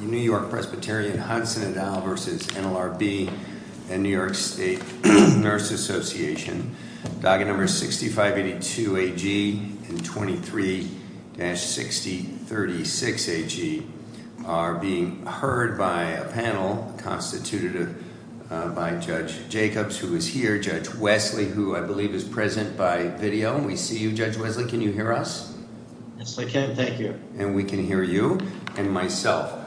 New York Presbyterian Hudson Valley versus NLRB and New York State Nurses Association, docket number 6582 AG and 23-6036 AG are being heard by a panel constituted by Judge Jacobs, who is here, Judge Wesley, who I believe is present by video. We see you, Judge Wesley, can you hear us? Yes, I can. Thank you. And we can hear you and myself.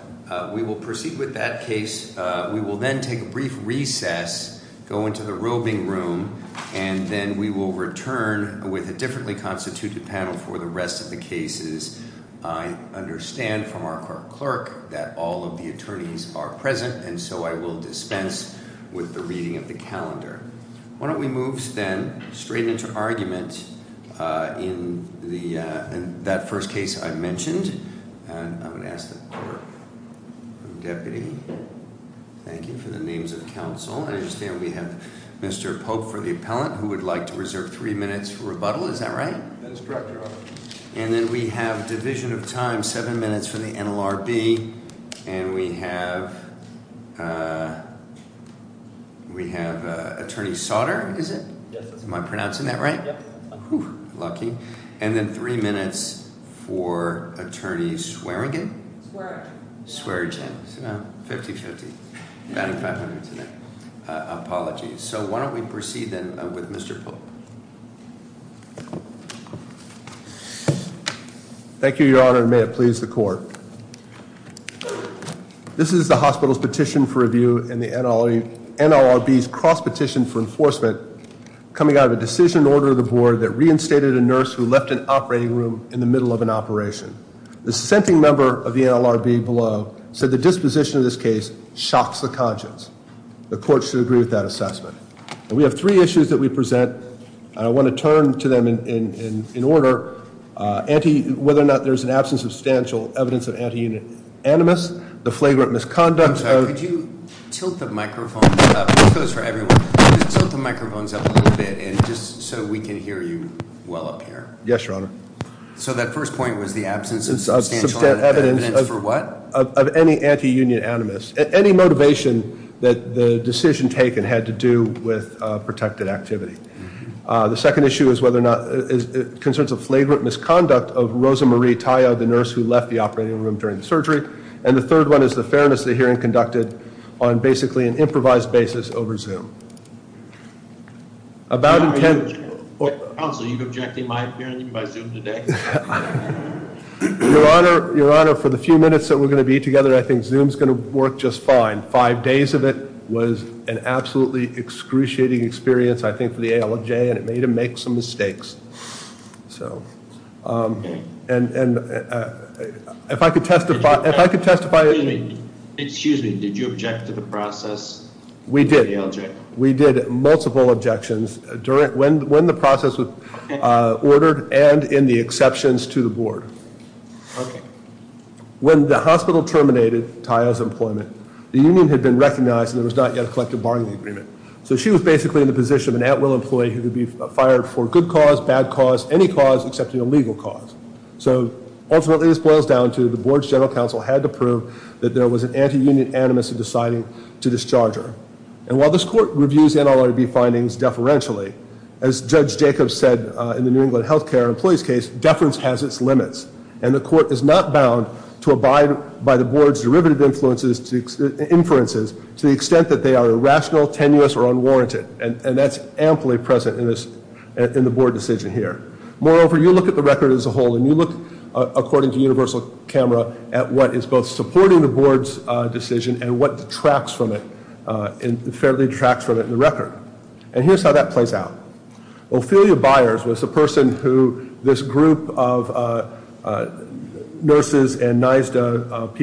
We will proceed with that case. We will then take a brief recess, go into the roving room, and then we will return with a differently constituted panel for the rest of the cases. I understand from our clerk that all of the attorneys are present, and so I will dispense with the reading of the calendar. Why don't we move then straight into argument in that first case I mentioned, and I'm going to ask the clerk and deputy, thank you for the names of counsel. I understand we have Mr. Pope for the appellant, who would like to reserve three minutes for rebuttal, is that right? That is correct, Your Honor. And then we have division of time, seven minutes for the NLRB, and we have Attorney Sautter, is it? Yes. Am I pronouncing that right? Lucky. And then three minutes for Attorney Swearingen. Swearingen. Swearingen. Fifty-fifty. I'm adding 500 to that. Apologies. So why don't we proceed then with Mr. Pope? Thank you, Your Honor, and may it please the court. This is the hospital's petition for review and the NLRB's cross-petition for enforcement coming out of a decision in order of the board that reinstated a nurse who left an operating room in the middle of an operation. The sentencing member of the NLRB below said the disposition of this case shocks the conscience. The court should agree with that assessment. And we have three I want to turn to them in order, whether or not there's an absence of substantial evidence of anti-union animus, the flagrant misconduct. Could you tilt the microphones up? This goes for everyone. Could you tilt the microphones up a little bit, and just so we can hear you well up here? Yes, Your Honor. So that first point was the absence of substantial evidence for what? Of any anti-union animus. Any motivation that the decision taken had to do with protected activity. The second issue is whether or not is concerns of flagrant misconduct of Rosa Marie Tayo, the nurse who left the operating room during the surgery. And the third one is the fairness of the hearing conducted on basically an improvised basis over Zoom. About intent. Counsel, are you objecting my opinion by Zoom today? Your Honor, for the few minutes that we're going to be together, I think Zoom's going to work just fine. Five days of it was an absolutely excruciating experience, I think, for the ALJ, and it made them make some mistakes. So, and if I could testify, if I could testify. Excuse me, did you object to the process? We did. We did multiple objections during, when the process was ordered and in the exceptions to the board. Okay. When the hospital terminated Tayo's employment, the union had been recognized and there was not a collective bargaining agreement. So she was basically in the position of an at-will employee who could be fired for good cause, bad cause, any cause excepting a legal cause. So ultimately, this boils down to the board's general counsel had to prove that there was an anti-union animus in deciding to discharge her. And while this court reviews NLRB findings deferentially, as Judge Jacobs said in the New England Healthcare Employees case, deference has its limits and the court is not bound to abide by the board's derivative influences to inferences to the irrational, tenuous, or unwarranted. And that's amply present in this, in the board decision here. Moreover, you look at the record as a whole and you look, according to Universal Camera, at what is both supporting the board's decision and what detracts from it, and fairly detracts from it in the record. And here's how that plays out. Ophelia Byers was the person who this group of nurses and and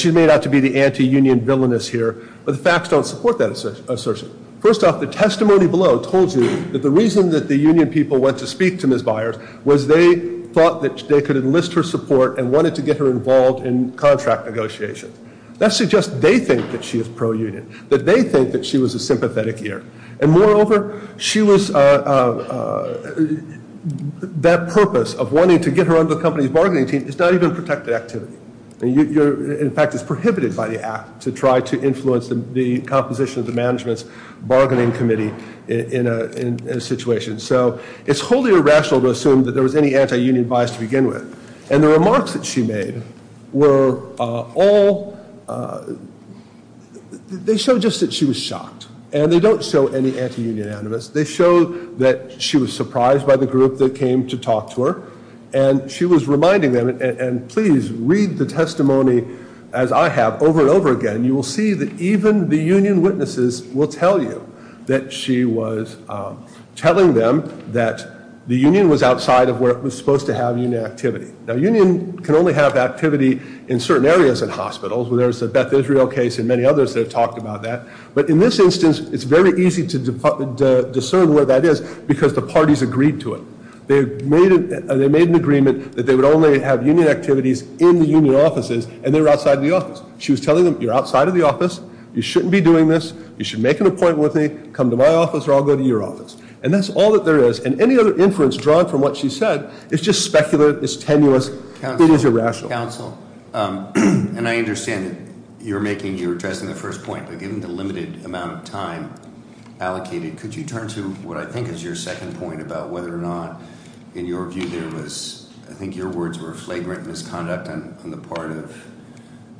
she's made out to be the anti-union villainess here, but the facts don't support that assertion. First off, the testimony below told you that the reason that the union people went to speak to Ms. Byers was they thought that they could enlist her support and wanted to get her involved in contract negotiations. That suggests they think that she is pro-union, that they think that she was a sympathetic ear. And moreover, she was, that purpose of wanting to get her under the company's bargaining team is not even a protected activity. In fact, it's prohibited by the act to try to influence the composition of the management's bargaining committee in a situation. So it's wholly irrational to assume that there was any anti-union bias to begin with. And the remarks that she made were all, they show just that she was shocked. And they don't show any anti-union animus. They show that she was surprised by the group that came to talk to her and she was reminding them, and please read the testimony as I have over and over again, you will see that even the union witnesses will tell you that she was telling them that the union was outside of where it was supposed to have union activity. Now union can only have activity in certain areas in hospitals, where there's a Beth Israel case and many others that have talked about that. But in this instance, it's very easy to discern where that is because the parties agreed to it. They made an agreement that they would only have union activities in the union offices and they were outside the office. She was telling them you're outside of the office, you shouldn't be doing this, you should make an appointment with me, come to my office, or I'll go to your office. And that's all that there is. And any other inference drawn from what she said, it's just specular, it's tenuous, it is irrational. Counsel, and I understand that you're making, you're addressing the first point, but given the limited amount of time allocated, could you turn to what I think is your second point about whether or not, in your view, there was, I think your words were flagrant misconduct on the part of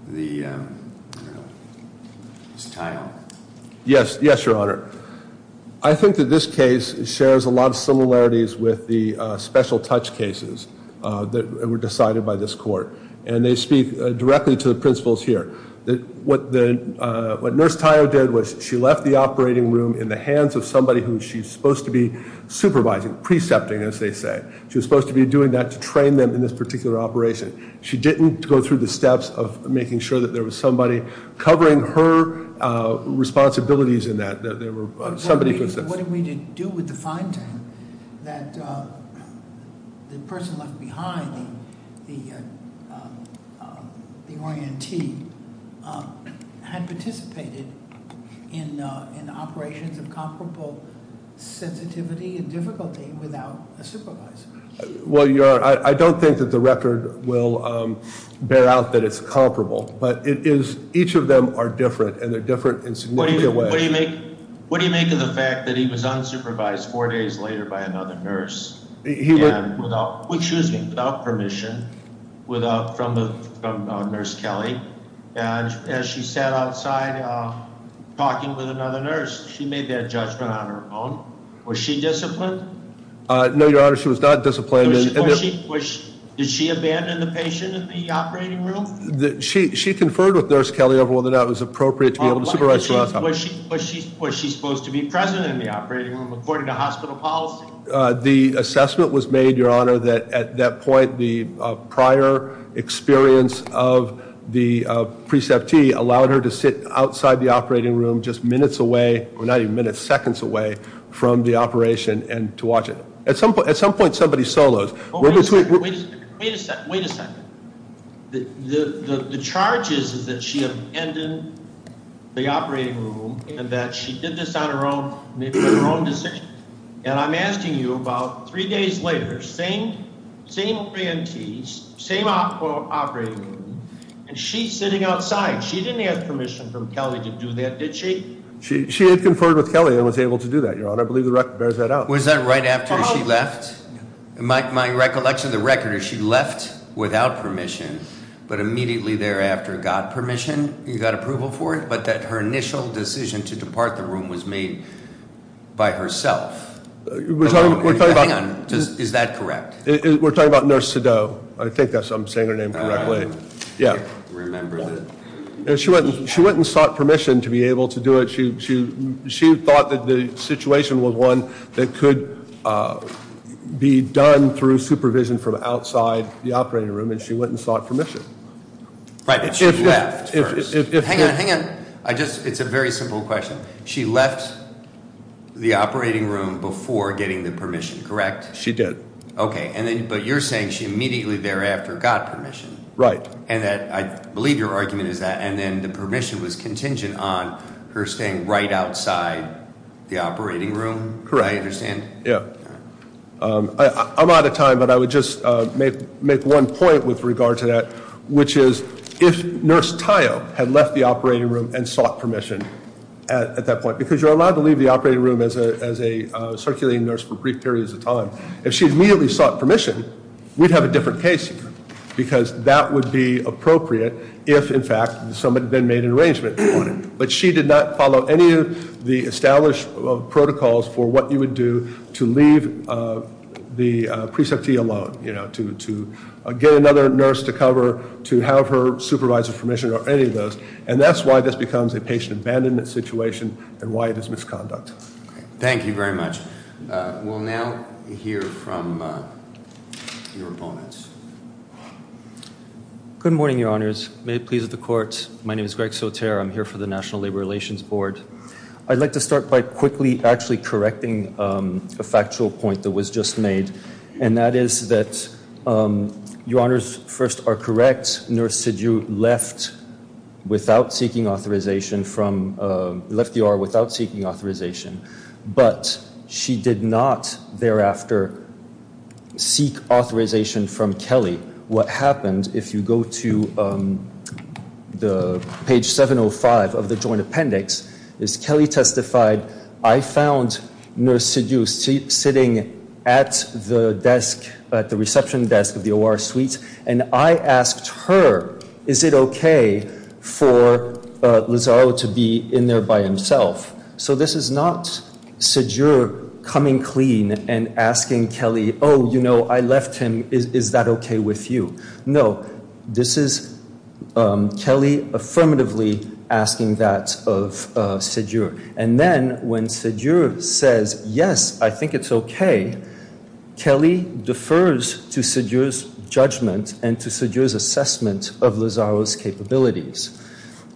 the, you know, just tie on. Yes, yes, your honor. I think that this case shares a lot of similarities with the special touch cases that were decided by this court. And they speak directly to the principles here. That what the, what Nurse Tayo did was she left the operating room in the hands of somebody who she's supposed to be supervising, precepting as they say. She was supposed to be doing that to train them in this particular operation. She didn't go through the steps of making sure that there was somebody covering her responsibilities in that. That there were somebody. What do we do with the finding that the person left behind, the the orientee, had participated in operations of comparable sensitivity and difficulty without a supervisor? Well, your honor, I don't think that the record will bear out that it's comparable, but it is, each of them are different, and they're different in significant ways. What do you make, what do you make of the fact that he was unsupervised four days later by another nurse, without, excuse me, without permission, without, from the, from Nurse Kelly, and as she sat outside talking with another nurse, she made that judgment on her own. Was she disciplined? No, your honor, she was not disciplined. Did she abandon the patient in the operating room? She conferred with Nurse Kelly over whether or not it was appropriate to be able to supervise Was she supposed to be present in the operating room, according to hospital policy? The assessment was made, your honor, that at that point, the prior experience of the preceptee allowed her to sit outside the operating room, just minutes away, or not even minutes, seconds away from the operation, and to watch it. At some point, at some point, somebody solos. Wait a second. The, the, the charge is, is that she abandoned the operating room, and that she did this on her own, made her own decision, and I'm asking you about three days later, same, same grantees, same operating room, and she's sitting outside. She didn't ask permission from Kelly to do that, did she? She, she had conferred with Kelly and was able to do that, your honor. I believe the she left. My, my recollection of the record is she left without permission, but immediately thereafter got permission. You got approval for it, but that her initial decision to depart the room was made by herself. Is that correct? We're talking about Nurse Sadoe. I think that's, I'm saying her name correctly. Yeah. Remember that. She went, she went and sought permission to be done through supervision from outside the operating room, and she went and sought permission. Right, but she left first. Hang on, hang on. I just, it's a very simple question. She left the operating room before getting the permission, correct? She did. Okay, and then, but you're saying she immediately thereafter got permission. Right. And that, I believe your argument is that, and then the permission was contingent on her staying right outside the operating room. Correct. I understand. Yeah. I'm out of time, but I would just make, make one point with regard to that, which is if Nurse Tayo had left the operating room and sought permission at, at that point, because you're allowed to leave the operating room as a, as a circulating nurse for brief periods of time. If she immediately sought permission, we'd have a different case here, because that would be appropriate if, in fact, somebody then made an arrangement. But she did not follow any of the established protocols for what you would do to leave the preceptee alone, you know, to, to get another nurse to cover, to have her supervisor's permission, or any of those. And that's why this becomes a patient abandonment situation, and why it is misconduct. Thank you very much. We'll now hear from your opponents. Good morning, your honors. May it please the board. I'd like to start by quickly actually correcting a factual point that was just made, and that is that your honors first are correct. Nurse Sidhu left without seeking authorization from, left the OR without seeking authorization, but she did not thereafter seek authorization from Kelly. What happened, if you go to the page 705 of the joint appendix, is Kelly testified, I found Nurse Sidhu sitting at the desk, at the reception desk of the OR suite, and I asked her, is it okay for Lazaro to be in there by himself? So this is not Sidhu coming clean and asking Kelly, oh, you know, I left him, is, is that okay with you? No, this is Kelly affirmatively asking that of Sidhu. And then when Sidhu says, yes, I think it's okay, Kelly defers to Sidhu's judgment and to Sidhu's assessment of Lazaro's capabilities.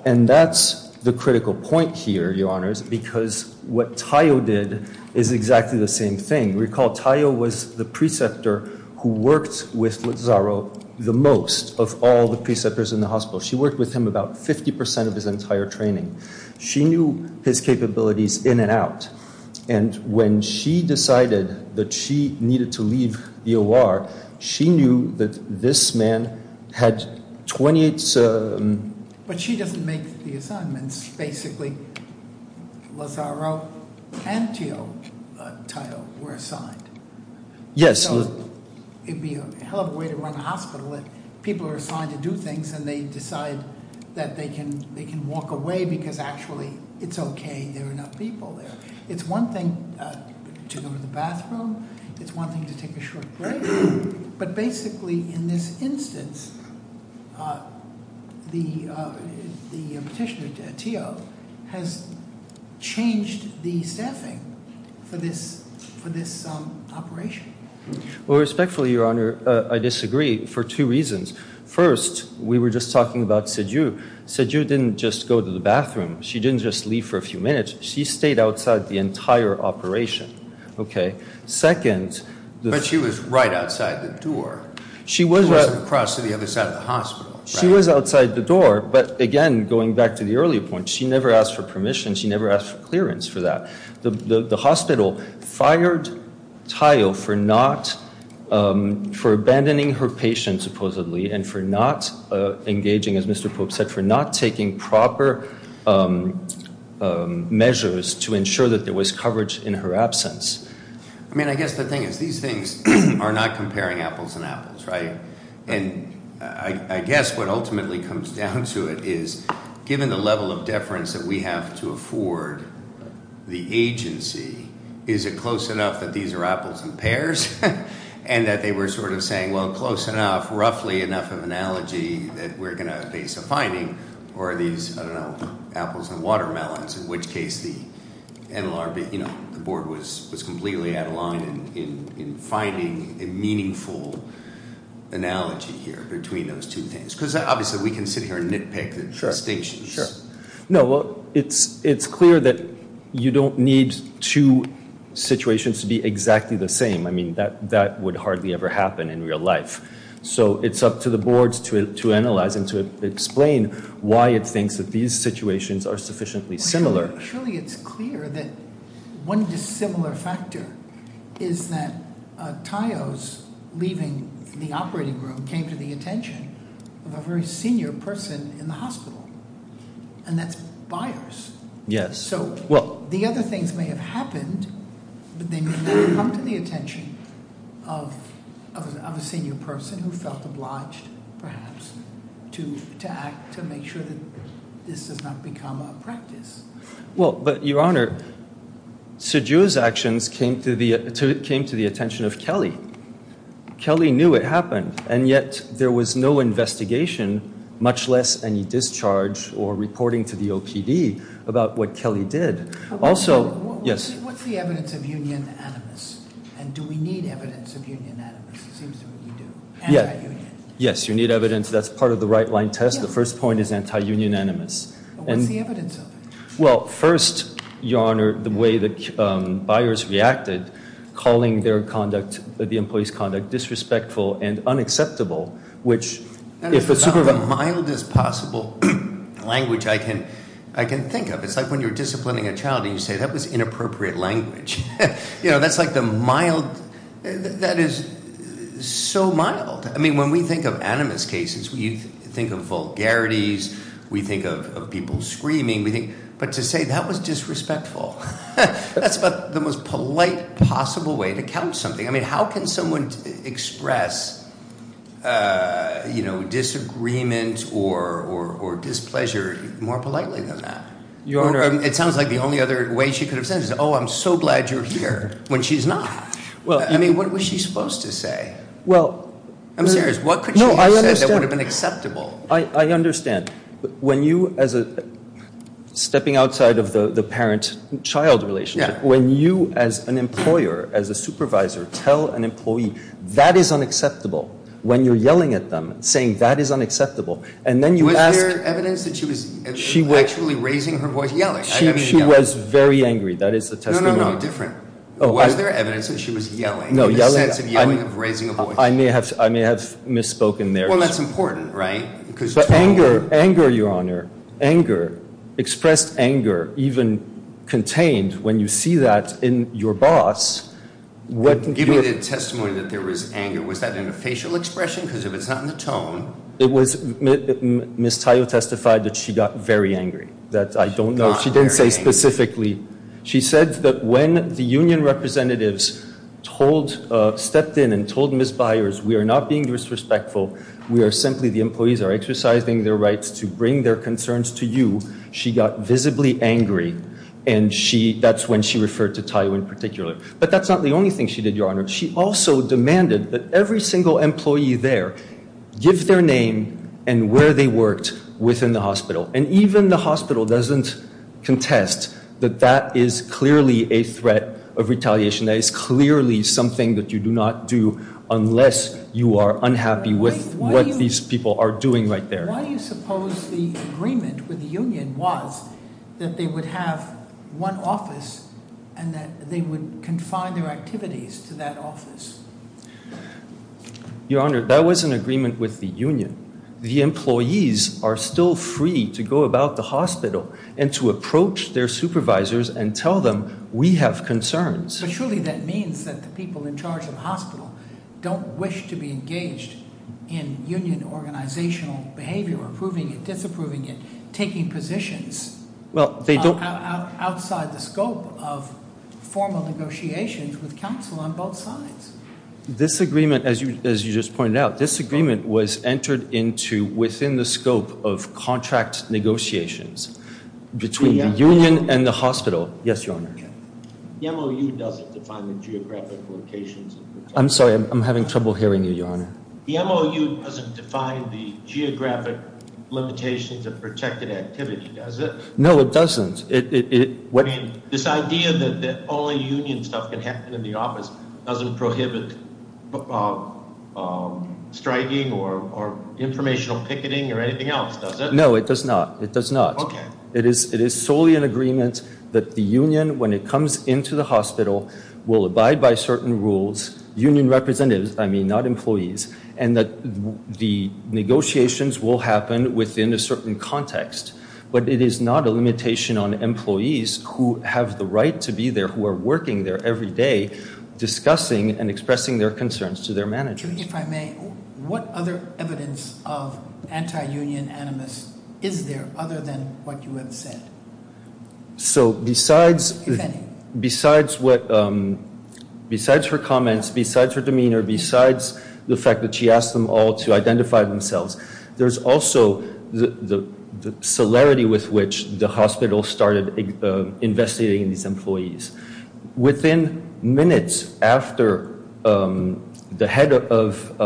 And that's the critical point here, your honors, because what Tayo did is exactly the same thing. Recall Tayo was the preceptor who worked with Lazaro the most of all the preceptors in the hospital. She worked with him about 50% of his entire training. She knew his capabilities in and out, and when she decided that she needed to leave the OR, she knew that this man had 28... But she doesn't make the assignments, basically. Lazaro and Tayo were assigned. Yes. So it'd be a hell of a way to run a hospital if people are assigned to do things and they decide that they can, they can walk away because actually it's okay, there are enough people there. It's one thing to go to the bathroom, it's one thing to take a short break, but basically in this instance, the petitioner, Tayo, has changed the staffing for this operation. Well, respectfully, your honor, I disagree for two reasons. First, we were just talking about Sidhu. Sidhu didn't just go to the bathroom. She didn't just leave for a few minutes. She stayed outside the entire operation, okay. Second... But she was right outside the door. She was... Outside the other side of the hospital. She was outside the door, but again, going back to the earlier point, she never asked for permission. She never asked for clearance for that. The hospital fired Tayo for not, for abandoning her patient supposedly, and for not engaging, as Mr. Pope said, for not taking proper measures to ensure that there was coverage in her absence. I mean, I guess the thing is, these things are not comparing apples and apples, right? And I guess what ultimately comes down to it is, given the level of deference that we have to afford the agency, is it close enough that these are apples and pears? And that they were sort of saying, well, close enough, roughly enough of an analogy that we're going to base a finding, or are these, I don't know, apples and watermelons? In which case the NLRB, you know, the board was completely out of line in finding a meaningful analogy here between those two things. Because obviously we can sit here and nitpick the distinctions. Sure. No, well, it's clear that you don't need two situations to be exactly the same. I mean, that would hardly ever happen in real life. So it's up to the boards to analyze and to explain why it thinks that these situations are sufficiently similar. Surely it's clear that one dissimilar factor is that Taiyo's leaving the operating room came to the attention of a very senior person in the hospital, and that's Byers. Yes. So the other things may have happened, but they may not have come to the attention of a senior person who felt obliged, perhaps, to act to make sure that this does not become a practice. Well, but your honor, Siju's actions came to the attention of Kelly. Kelly knew it happened, and yet there was no investigation, much less any discharge or reporting to the OPD about what Kelly did. Also, yes. What's the evidence of union animus, and do we need evidence of union animus? It seems to me you do. Yes, you need evidence. That's part of the right-line test. The first point is anti-union animus. What's the evidence of it? Well, first, your honor, the way that Byers reacted, calling their conduct, the employee's conduct, disrespectful and unacceptable, which, if it's- It's about the mildest possible language I can think of. It's like when you're disciplining a child and you say, that was inappropriate language. You know, that's like the mild, that is so mild. I mean, when we think of animus cases, we think of vulgarities, we think of people screaming, we think, but to say that was disrespectful, that's about the most polite possible way to count something. I mean, how can someone express, you know, disagreement or displeasure more politely than that? Your honor- It sounds like the only other way she could have said is, oh, I'm so glad you're here, when she's not. Well, I mean, what was she supposed to say? Well, I'm serious. What could she have said that would have been acceptable? I understand. When you, as a stepping outside of the parent-child relationship, when you, as an employer, as a supervisor, tell an and then you ask- Was there evidence that she was actually raising her voice, yelling? She was very angry. That is the testimony. No, no, no, different. Was there evidence that she was yelling? No, yelling. The sense of yelling, of raising a voice. I may have, I may have misspoken there. Well, that's important, right? Anger, anger, your honor. Anger, expressed anger, even contained when you see that in your boss. Give me the testimony that there was anger. Was that in a facial expression? Because if it's not in the tone- It was, Ms. Tayo testified that she got very angry. That I don't know. She didn't say specifically. She said that when the union representatives told, stepped in and told Ms. Byers, we are not being disrespectful. We are simply, the employees are exercising their rights to bring their concerns to you. She got visibly angry and she, that's when she referred to Tayo in particular. But that's not the only thing she did, your honor. She also demanded that every single employee there give their name and where they worked within the hospital. And even the hospital doesn't contest that that is clearly a threat of retaliation. That is clearly something that you do not do unless you are unhappy with what these people are doing right there. Why do you suppose the agreement with the union was that they would have one office and that they would confine their activities to that office? Your honor, that was an agreement with the union. The employees are still free to go about the hospital and to approach their supervisors and tell them we have concerns. But surely that means that the people in charge of the hospital don't wish to be engaged in union organizational behavior, approving it, disapproving it, taking positions outside the scope of formal negotiations with counsel on both sides. This agreement, as you as you just pointed out, this agreement was entered into within the scope of contract negotiations between the union and the hospital. Yes, your honor. The MOU doesn't define the geographic locations. I'm sorry, I'm having trouble hearing you, your honor. The MOU doesn't define the this idea that only union stuff can happen in the office doesn't prohibit striking or informational picketing or anything else, does it? No, it does not. It does not. Okay. It is solely an agreement that the union, when it comes into the hospital, will abide by certain rules, union representatives, I mean not employees, and that the negotiations will happen within a have the right to be there, who are working there every day, discussing and expressing their concerns to their managers. If I may, what other evidence of anti-union animus is there other than what you have said? So besides her comments, besides her demeanor, besides the fact that she asked them all to identify themselves, there's also the celerity with which the hospital started investigating these employees. Within minutes after the head of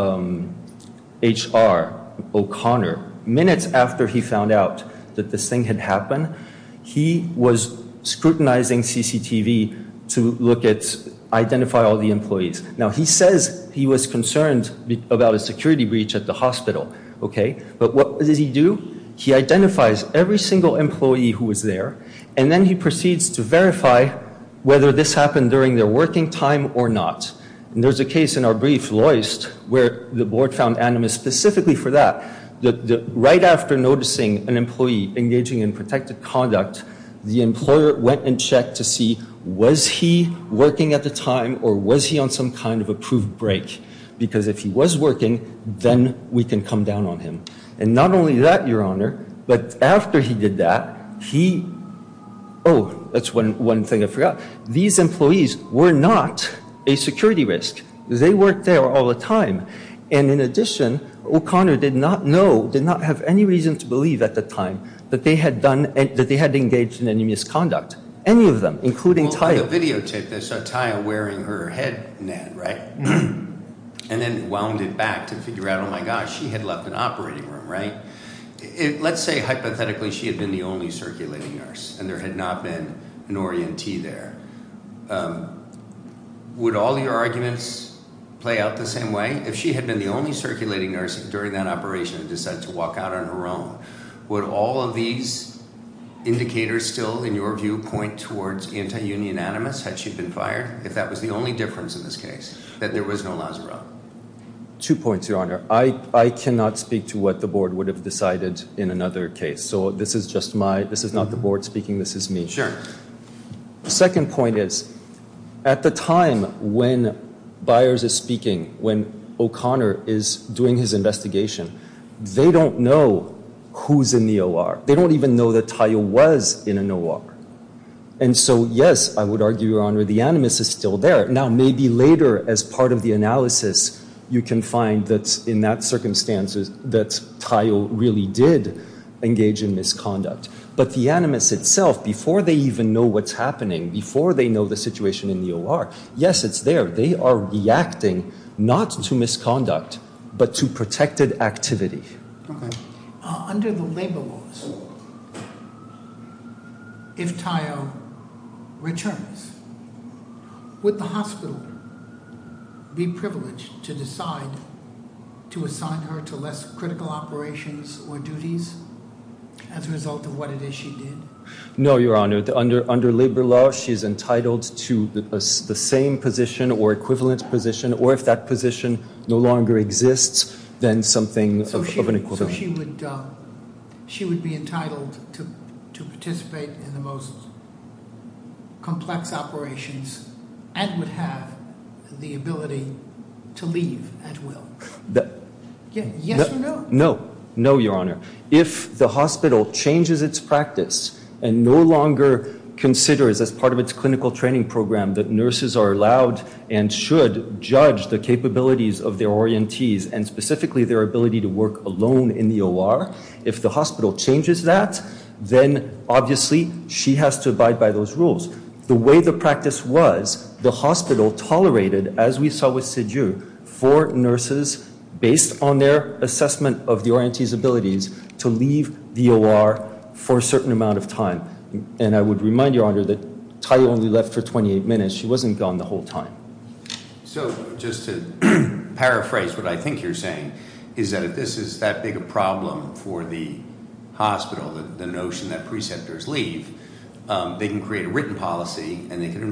HR, O'Connor, minutes after he found out that this thing had happened, he was scrutinizing CCTV to look at, identify all the employees. Now he says he was concerned about a security breach at the hospital, okay, but what does he do? He identifies every single employee who was there, and then he proceeds to verify whether this happened during their working time or not, and there's a case in our brief, Loyst, where the Board found animus specifically for that. Right after noticing an employee engaging in protected conduct, the employer went and checked to see was he working at the time or was he on some kind of approved break, because if he was working, then we can come down on him. And not only that, Your Honor, but after he did that, he, oh, that's one thing I forgot. These employees were not a security risk. They weren't there all the time, and in addition, O'Connor did not know, did not have any reason to believe at the time that they had engaged in any misconduct. Any of them, including Taya. Well, for the videotape, they saw Taya wearing her head net, right, and then wound it back to figure out, oh my gosh, she had left an operating room, right? Let's say, hypothetically, she had been the only circulating nurse and there had not been an orientee there. Would all your arguments play out the same way? If she had been the only circulating nurse during that operation and decided to walk out on her own, would all of these indicators still, in your view, point towards anti-union animus, had she been fired, if that was the only difference in this case, that there was no Lazzaro? Two points, Your Honor. I cannot speak to what the Board would have decided in another case, so this is just my, this is not the Board speaking, this is me. Sure. The second point is, at the time when Byers is speaking, when O'Connor is doing his investigation, they don't know who's in the OR. They don't even know that Taya was in an OR. And so, yes, I would argue, Your Honor, the animus is still there. Now, maybe later, as part of the analysis, you can find that, in that circumstances, that Taya really did engage in misconduct. But the animus itself, before they even know what's happening, before they know the situation in the OR, yes, it's there. They are reacting, not to misconduct, but to protected activity. Okay. Under the labor laws, if Taya returns, would the hospital be privileged to decide to assign her to less critical operations or duties, as a result of what it is she did? No, Your Honor. Under labor law, she's entitled to the same position or equivalent position, or if that position no longer exists, then something of an equivalent. So she would be entitled to participate in the most complex operations and would have the ability to leave at will? Yes or no? No. No, Your Honor. If the hospital changes its practice and no longer considers, as part of its clinical training program, that nurses are allowed and should judge the capabilities of their orientees and specifically their ability to work alone in the OR, if the hospital changes that, then obviously she has to abide by those rules. The way the practice was, the hospital tolerated, as we saw for nurses, based on their assessment of the orientee's abilities, to leave the OR for a certain amount of time. And I would remind Your Honor that Taya only left for 28 minutes. She wasn't gone the whole time. So just to paraphrase what I think you're saying, is that if this is that big a problem for the hospital, the notion that preceptors leave, they can create a written policy and they can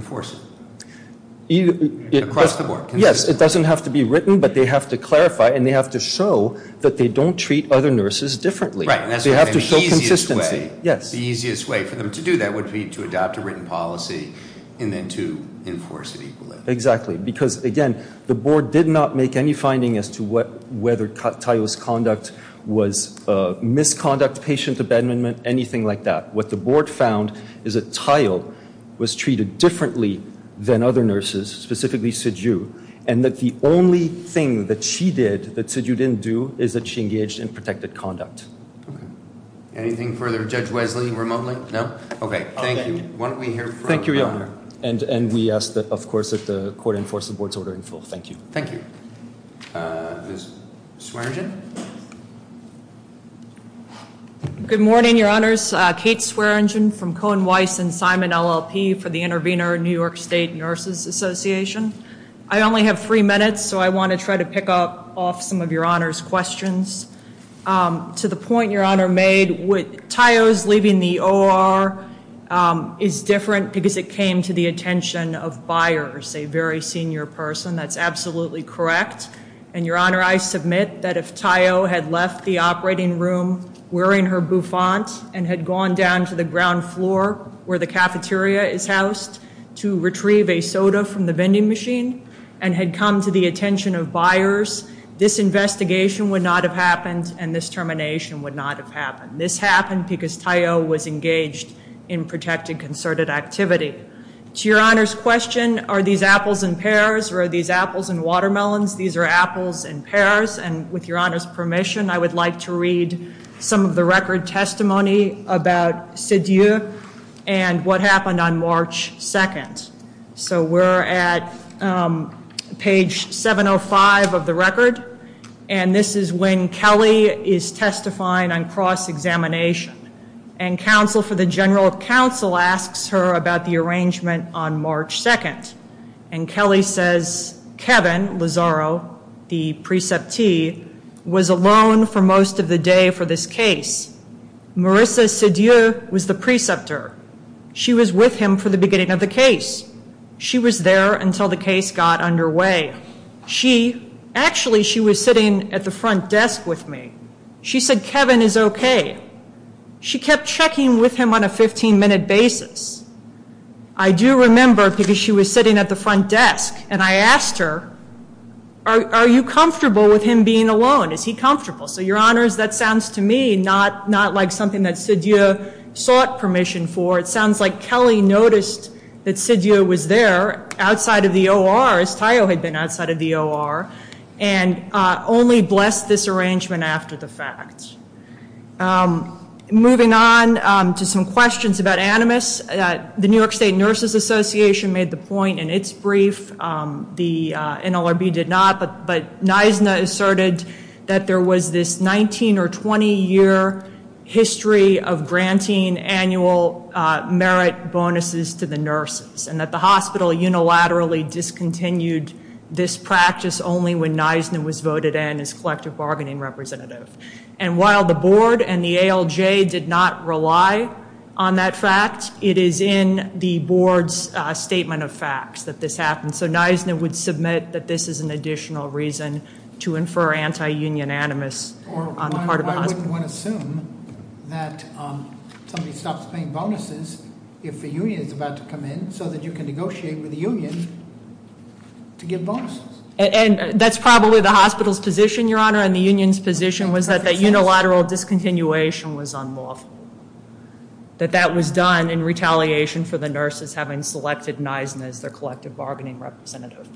it doesn't have to be written, but they have to clarify and they have to show that they don't treat other nurses differently. They have to show consistency. The easiest way for them to do that would be to adopt a written policy and then to enforce it equally. Exactly. Because again, the board did not make any finding as to whether Tayo's conduct was misconduct, patient abandonment, anything like that. What the board found is that Tayo was treated differently than other nurses, specifically Siju, and that the only thing that she did that Siju didn't do is that she engaged in protected conduct. Anything further? Judge Wesley, remotely? No? Okay, thank you. Why don't we hear from... Thank you, Your Honor. And we ask that, of course, that the court enforce the board's ordering full. Thank you. Thank you. Ms. Swearengen? Good morning, Your Honors. Kate Swearengen from Cohen Weiss and Simon LLP for the Intervenor New York State Nurses Association. I only have three minutes, so I want to try to pick up off some of Your Honor's questions. To the point Your Honor made, with Tayo's leaving the OR is different because it came to the attention of Byers, a very senior person. That's absolutely correct. And Your Honor, I submit that if Tayo had left the operating room wearing her bouffant and had gone down to the ground floor where the cafeteria is housed to retrieve a soda from the vending machine and had come to the attention of Byers, this investigation would not have happened and this termination would not have happened. This happened because Tayo was engaged in protected concerted activity. To Your Honor's question, are these apples and pears or are these apples and watermelons? These are apples and pears. And with Your Honor's permission, I would like to read some of the record testimony about Sidiou and what happened on March 2nd. So we're at page 705 of the record and this is when Kelly is testifying on cross-examination and counsel for the general counsel asks her about the arrangement on March 2nd. And Kelly says Kevin Lazaro, the preceptee, was alone for most of the day for this case. Marissa Sidiou was the preceptor. She was with him for the beginning of the case. She was there until the case got underway. She, actually she was sitting at the front desk with me. She said Kevin is okay. She kept checking with him on a 15-minute basis. I do remember because she was sitting at the front desk and I asked her, are you comfortable with him being alone? Is he comfortable? So Your Honors, that sounds to me not like something that Sidiou sought permission for. It sounds like Kelly noticed that Sidiou was there outside of the OR as Tayo had been outside of the OR and only blessed this arrangement after the fact. Moving on to some questions about Animus, the New York State Nurses Association made the point in its brief, the NLRB did not, but NISNA asserted that there was this 19 or 20 year history of granting annual merit bonuses to the nurses and that the hospital unilaterally discontinued this practice only when NISNA was voted in as collective bargaining representative. And while the board and the ALJ did not rely on that fact, it is in the board's statement of facts that this happened. So NISNA would submit that this is an additional reason to infer anti-union Animus on the part of the hospital. I wouldn't want to assume that somebody stops paying bonuses if the union is about to come in so that you can negotiate with the union to give bonuses. And that's probably the hospital's position, Your Honor, and the union's position was that the unilateral discontinuation was unlawful. That that was done in retaliation for the nurses having selected NISNA as their collective bargaining representative.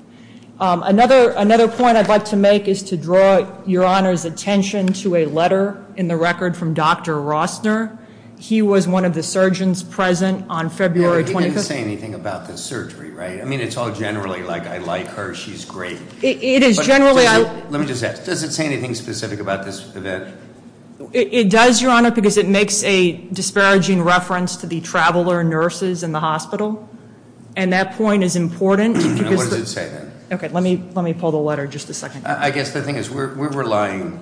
Another point I'd like to make is to draw Your Honor's attention to a letter in the record from Dr. Rossner. He was one of the surgeons present on February 25th. He didn't say anything about the surgery, right? I mean, it's all generally like, I like her, she's great. It is generally. Let me just ask, does it say anything specific about this event? It does, Your Honor, because it makes a disparaging reference to the traveler nurses in the hospital, and that point is important. What does it say then? Okay, let me pull the letter just a second. I guess the thing is we're relying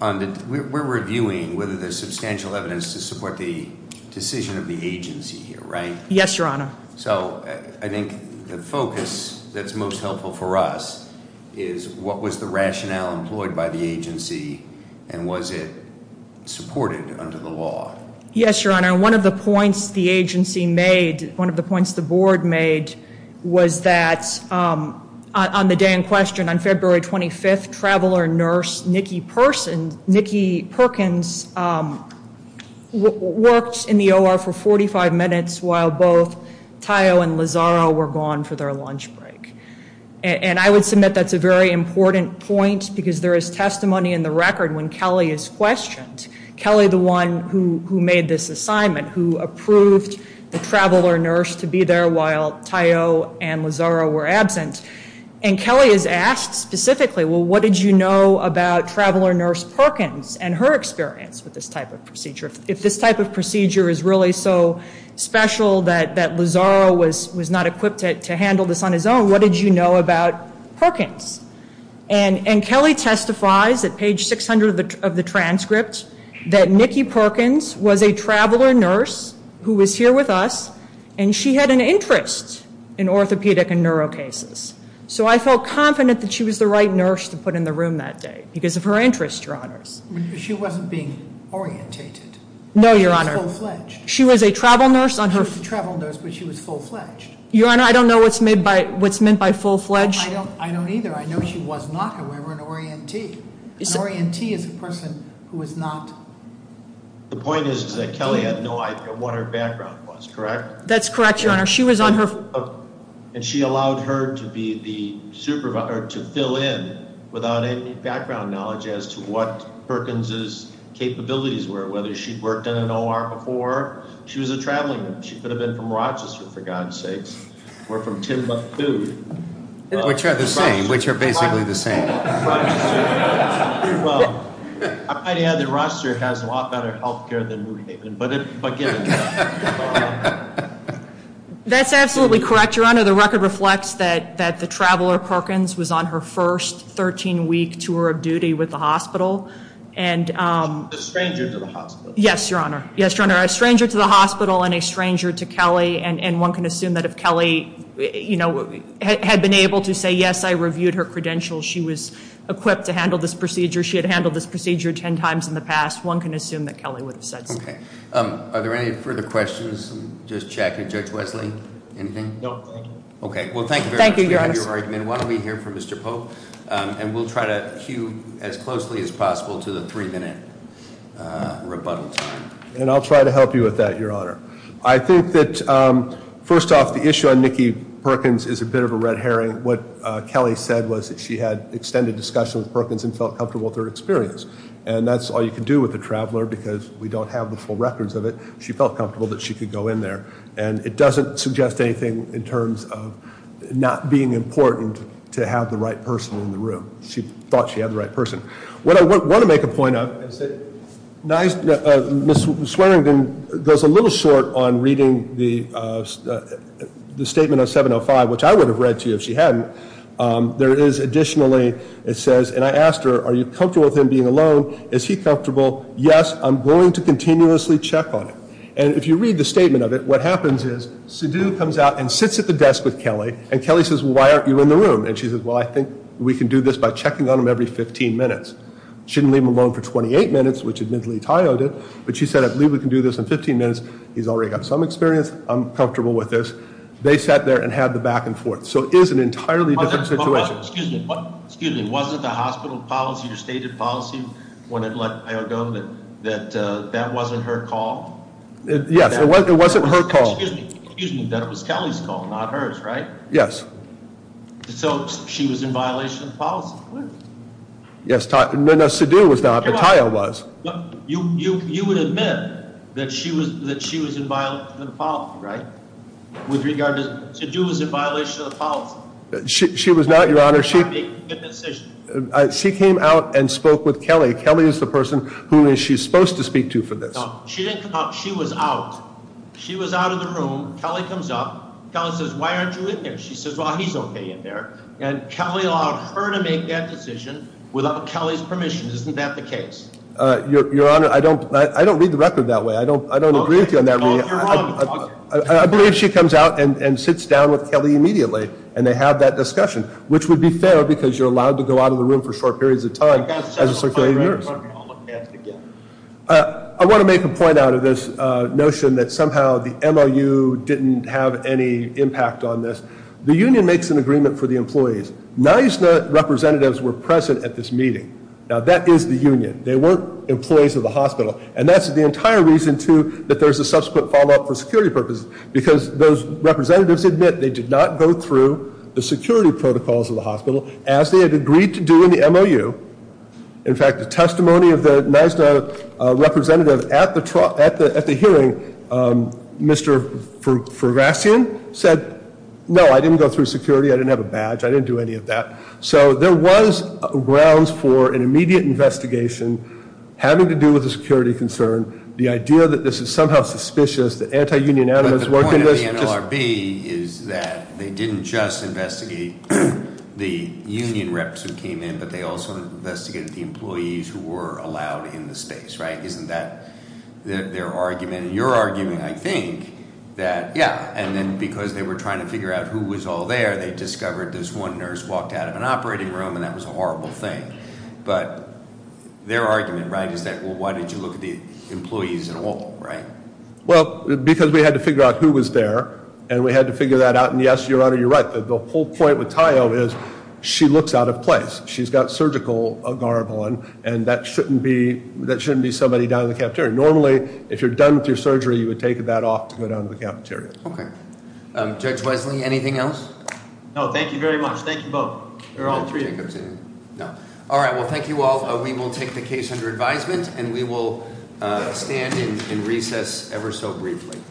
on the, we're reviewing whether there's substantial evidence to support the decision of the agency here, right? Yes, Your Honor. So I think the focus that's most helpful for us is what was the rationale employed by the agency, and was it supported under the law? Yes, Your Honor. One of the points the agency made, one of the points the board made, was that on the day in question, on February 25th, traveler nurse Nikki Persons, Nikki Perkins, worked in the OR for 45 days. I assume that that's a very important point, because there is testimony in the record when Kelly is questioned. Kelly, the one who made this assignment, who approved the traveler nurse to be there while Tayo and Lazaro were absent, and Kelly is asked specifically, well, what did you know about traveler nurse Perkins and her experience with this type of procedure? If this type of procedure is really so special that Lazaro was not equipped to handle this on his own, what did you know about Perkins? And Kelly testifies at page 600 of the transcript that Nikki Perkins was a traveler nurse who was here with us, and she had an interest in orthopedic and neuro cases. So I felt confident that she was the right nurse to put in the room that day, because of her interest, Your Honors. She wasn't being orientated. No, Your Honor. She was a travel nurse. She was a travel I don't either. I know she was not, however, an orientee. An orientee is a person who is not The point is that Kelly had no idea what her background was, correct? That's correct, Your Honor. She was on her... And she allowed her to be the supervisor, to fill in without any background knowledge as to what Perkins' capabilities were, whether she'd worked in an OR before. She was a traveling nurse. She could have been from Rochester, for God's sakes, or from Timbuktu. Which are the same, which are basically the same. I might add that Rochester has a lot better health care than New Haven, but given that... That's absolutely correct, Your Honor. The record reflects that the traveler, Perkins, was on her first 13-week tour of duty with the hospital, and... A stranger to the hospital. Yes, Your Honor. Yes, Your Honor. A stranger to the hospital and a stranger to Kelly, and one can be able to say, yes, I reviewed her credentials. She was equipped to handle this procedure. She had handled this procedure ten times in the past. One can assume that Kelly would have said so. Are there any further questions? Just checking. Judge Wesley, anything? No, thank you. Okay, well thank you very much for your argument. Why don't we hear from Mr. Pope, and we'll try to cue as closely as possible to the three minute rebuttal time. And I'll try to help you with that, Your Honor. I think that, first off, the issue on Nikki Perkins is a bit of a red herring. What Kelly said was that she had extended discussion with Perkins and felt comfortable with her experience. And that's all you can do with a traveler, because we don't have the full records of it. She felt comfortable that she could go in there, and it doesn't suggest anything in terms of not being important to have the right person in the room. She thought she had the right person. What I want to make a point of is that Ms. Swearingen goes a little short on reading the statement of 705, which I would have read to you if she hadn't. There is additionally, it says, and I asked her, are you comfortable with him being alone? Is he comfortable? Yes, I'm going to continuously check on him. And if you read the statement of it, what happens is, Sidhu comes out and sits at the desk with Kelly, and Kelly says, well, why aren't you in the room? And she says, well, I think we can do this by checking on him every 15 minutes. Shouldn't leave him alone for 28 minutes, which admittedly Tayo did. But she said, I believe we can do this in 15 minutes. He's already got some experience. I'm comfortable with this. They sat there and had the back and forth. So it is an entirely different situation. Excuse me. Wasn't the hospital policy, your stated policy, when it let Tayo go, that that wasn't her call? Yes, it wasn't her call. Excuse me, that it was Kelly's call, not hers, right? Yes. So she was in violation of the policy. Yes, no, Sidhu was not, but Tayo was. You would admit that she was in violation of the policy, right? With regard to, Sidhu was in violation of the policy. She was not, your honor. She made the decision. She came out and spoke with Kelly. Kelly is the person who she's supposed to speak to for this. She didn't come out. She was out. She was out of the room. Kelly comes up. Kelly says, why aren't you in there? She says, well, he's okay in there. And Kelly allowed her to make that decision without Kelly's permission. Isn't that the case? Your honor, I don't read the record that way. I don't agree with you on that. I believe she comes out and sits down with Kelly immediately. And they have that discussion, which would be fair because you're allowed to go out of the room for short periods of time as a circulating nurse. I want to make a point out of this notion that somehow the MOU didn't have any impact on this. The union makes an agreement for the employees. NYSNA representatives were present at this meeting. Now, that is the union. They weren't employees of the hospital. And that's the entire reason, too, that there's a subsequent follow-up for security purposes, because those representatives admit they did not go through the security protocols of the hospital as they had agreed to do in the MOU. In fact, the testimony of the NYSNA representative at the hearing, Mr. Ferguson said, no, I didn't go through security. I didn't have a badge. I didn't do any of that. So there was grounds for an immediate investigation having to do with a security concern. The idea that this is somehow suspicious, that anti-union animus worked in this. But the point of the NLRB is that they didn't just investigate the union reps who came in, but they also investigated the employees who were allowed in the space, right? Isn't that their argument? And your argument, I think, that yeah. And then because they were trying to figure out who was all there, they discovered this one nurse walked out of an operating room, and that was a horrible thing. But their argument, right, is that, well, why did you look at the employees at all, right? Well, because we had to figure out who was there, and we had to figure that out. And yes, Your Honor, you're right. The whole point with Tayo is she looks out of place. She's got surgical garb on, and that shouldn't be somebody down in the cafeteria. Normally, if you're done with your surgery, you would take that off to go down to the cafeteria. Okay. Judge Wesley, anything else? No, thank you very much. Thank you both. They're all three of you. All right. Well, thank you all. We will take the case under advisement, and we will stand in recess ever so briefly.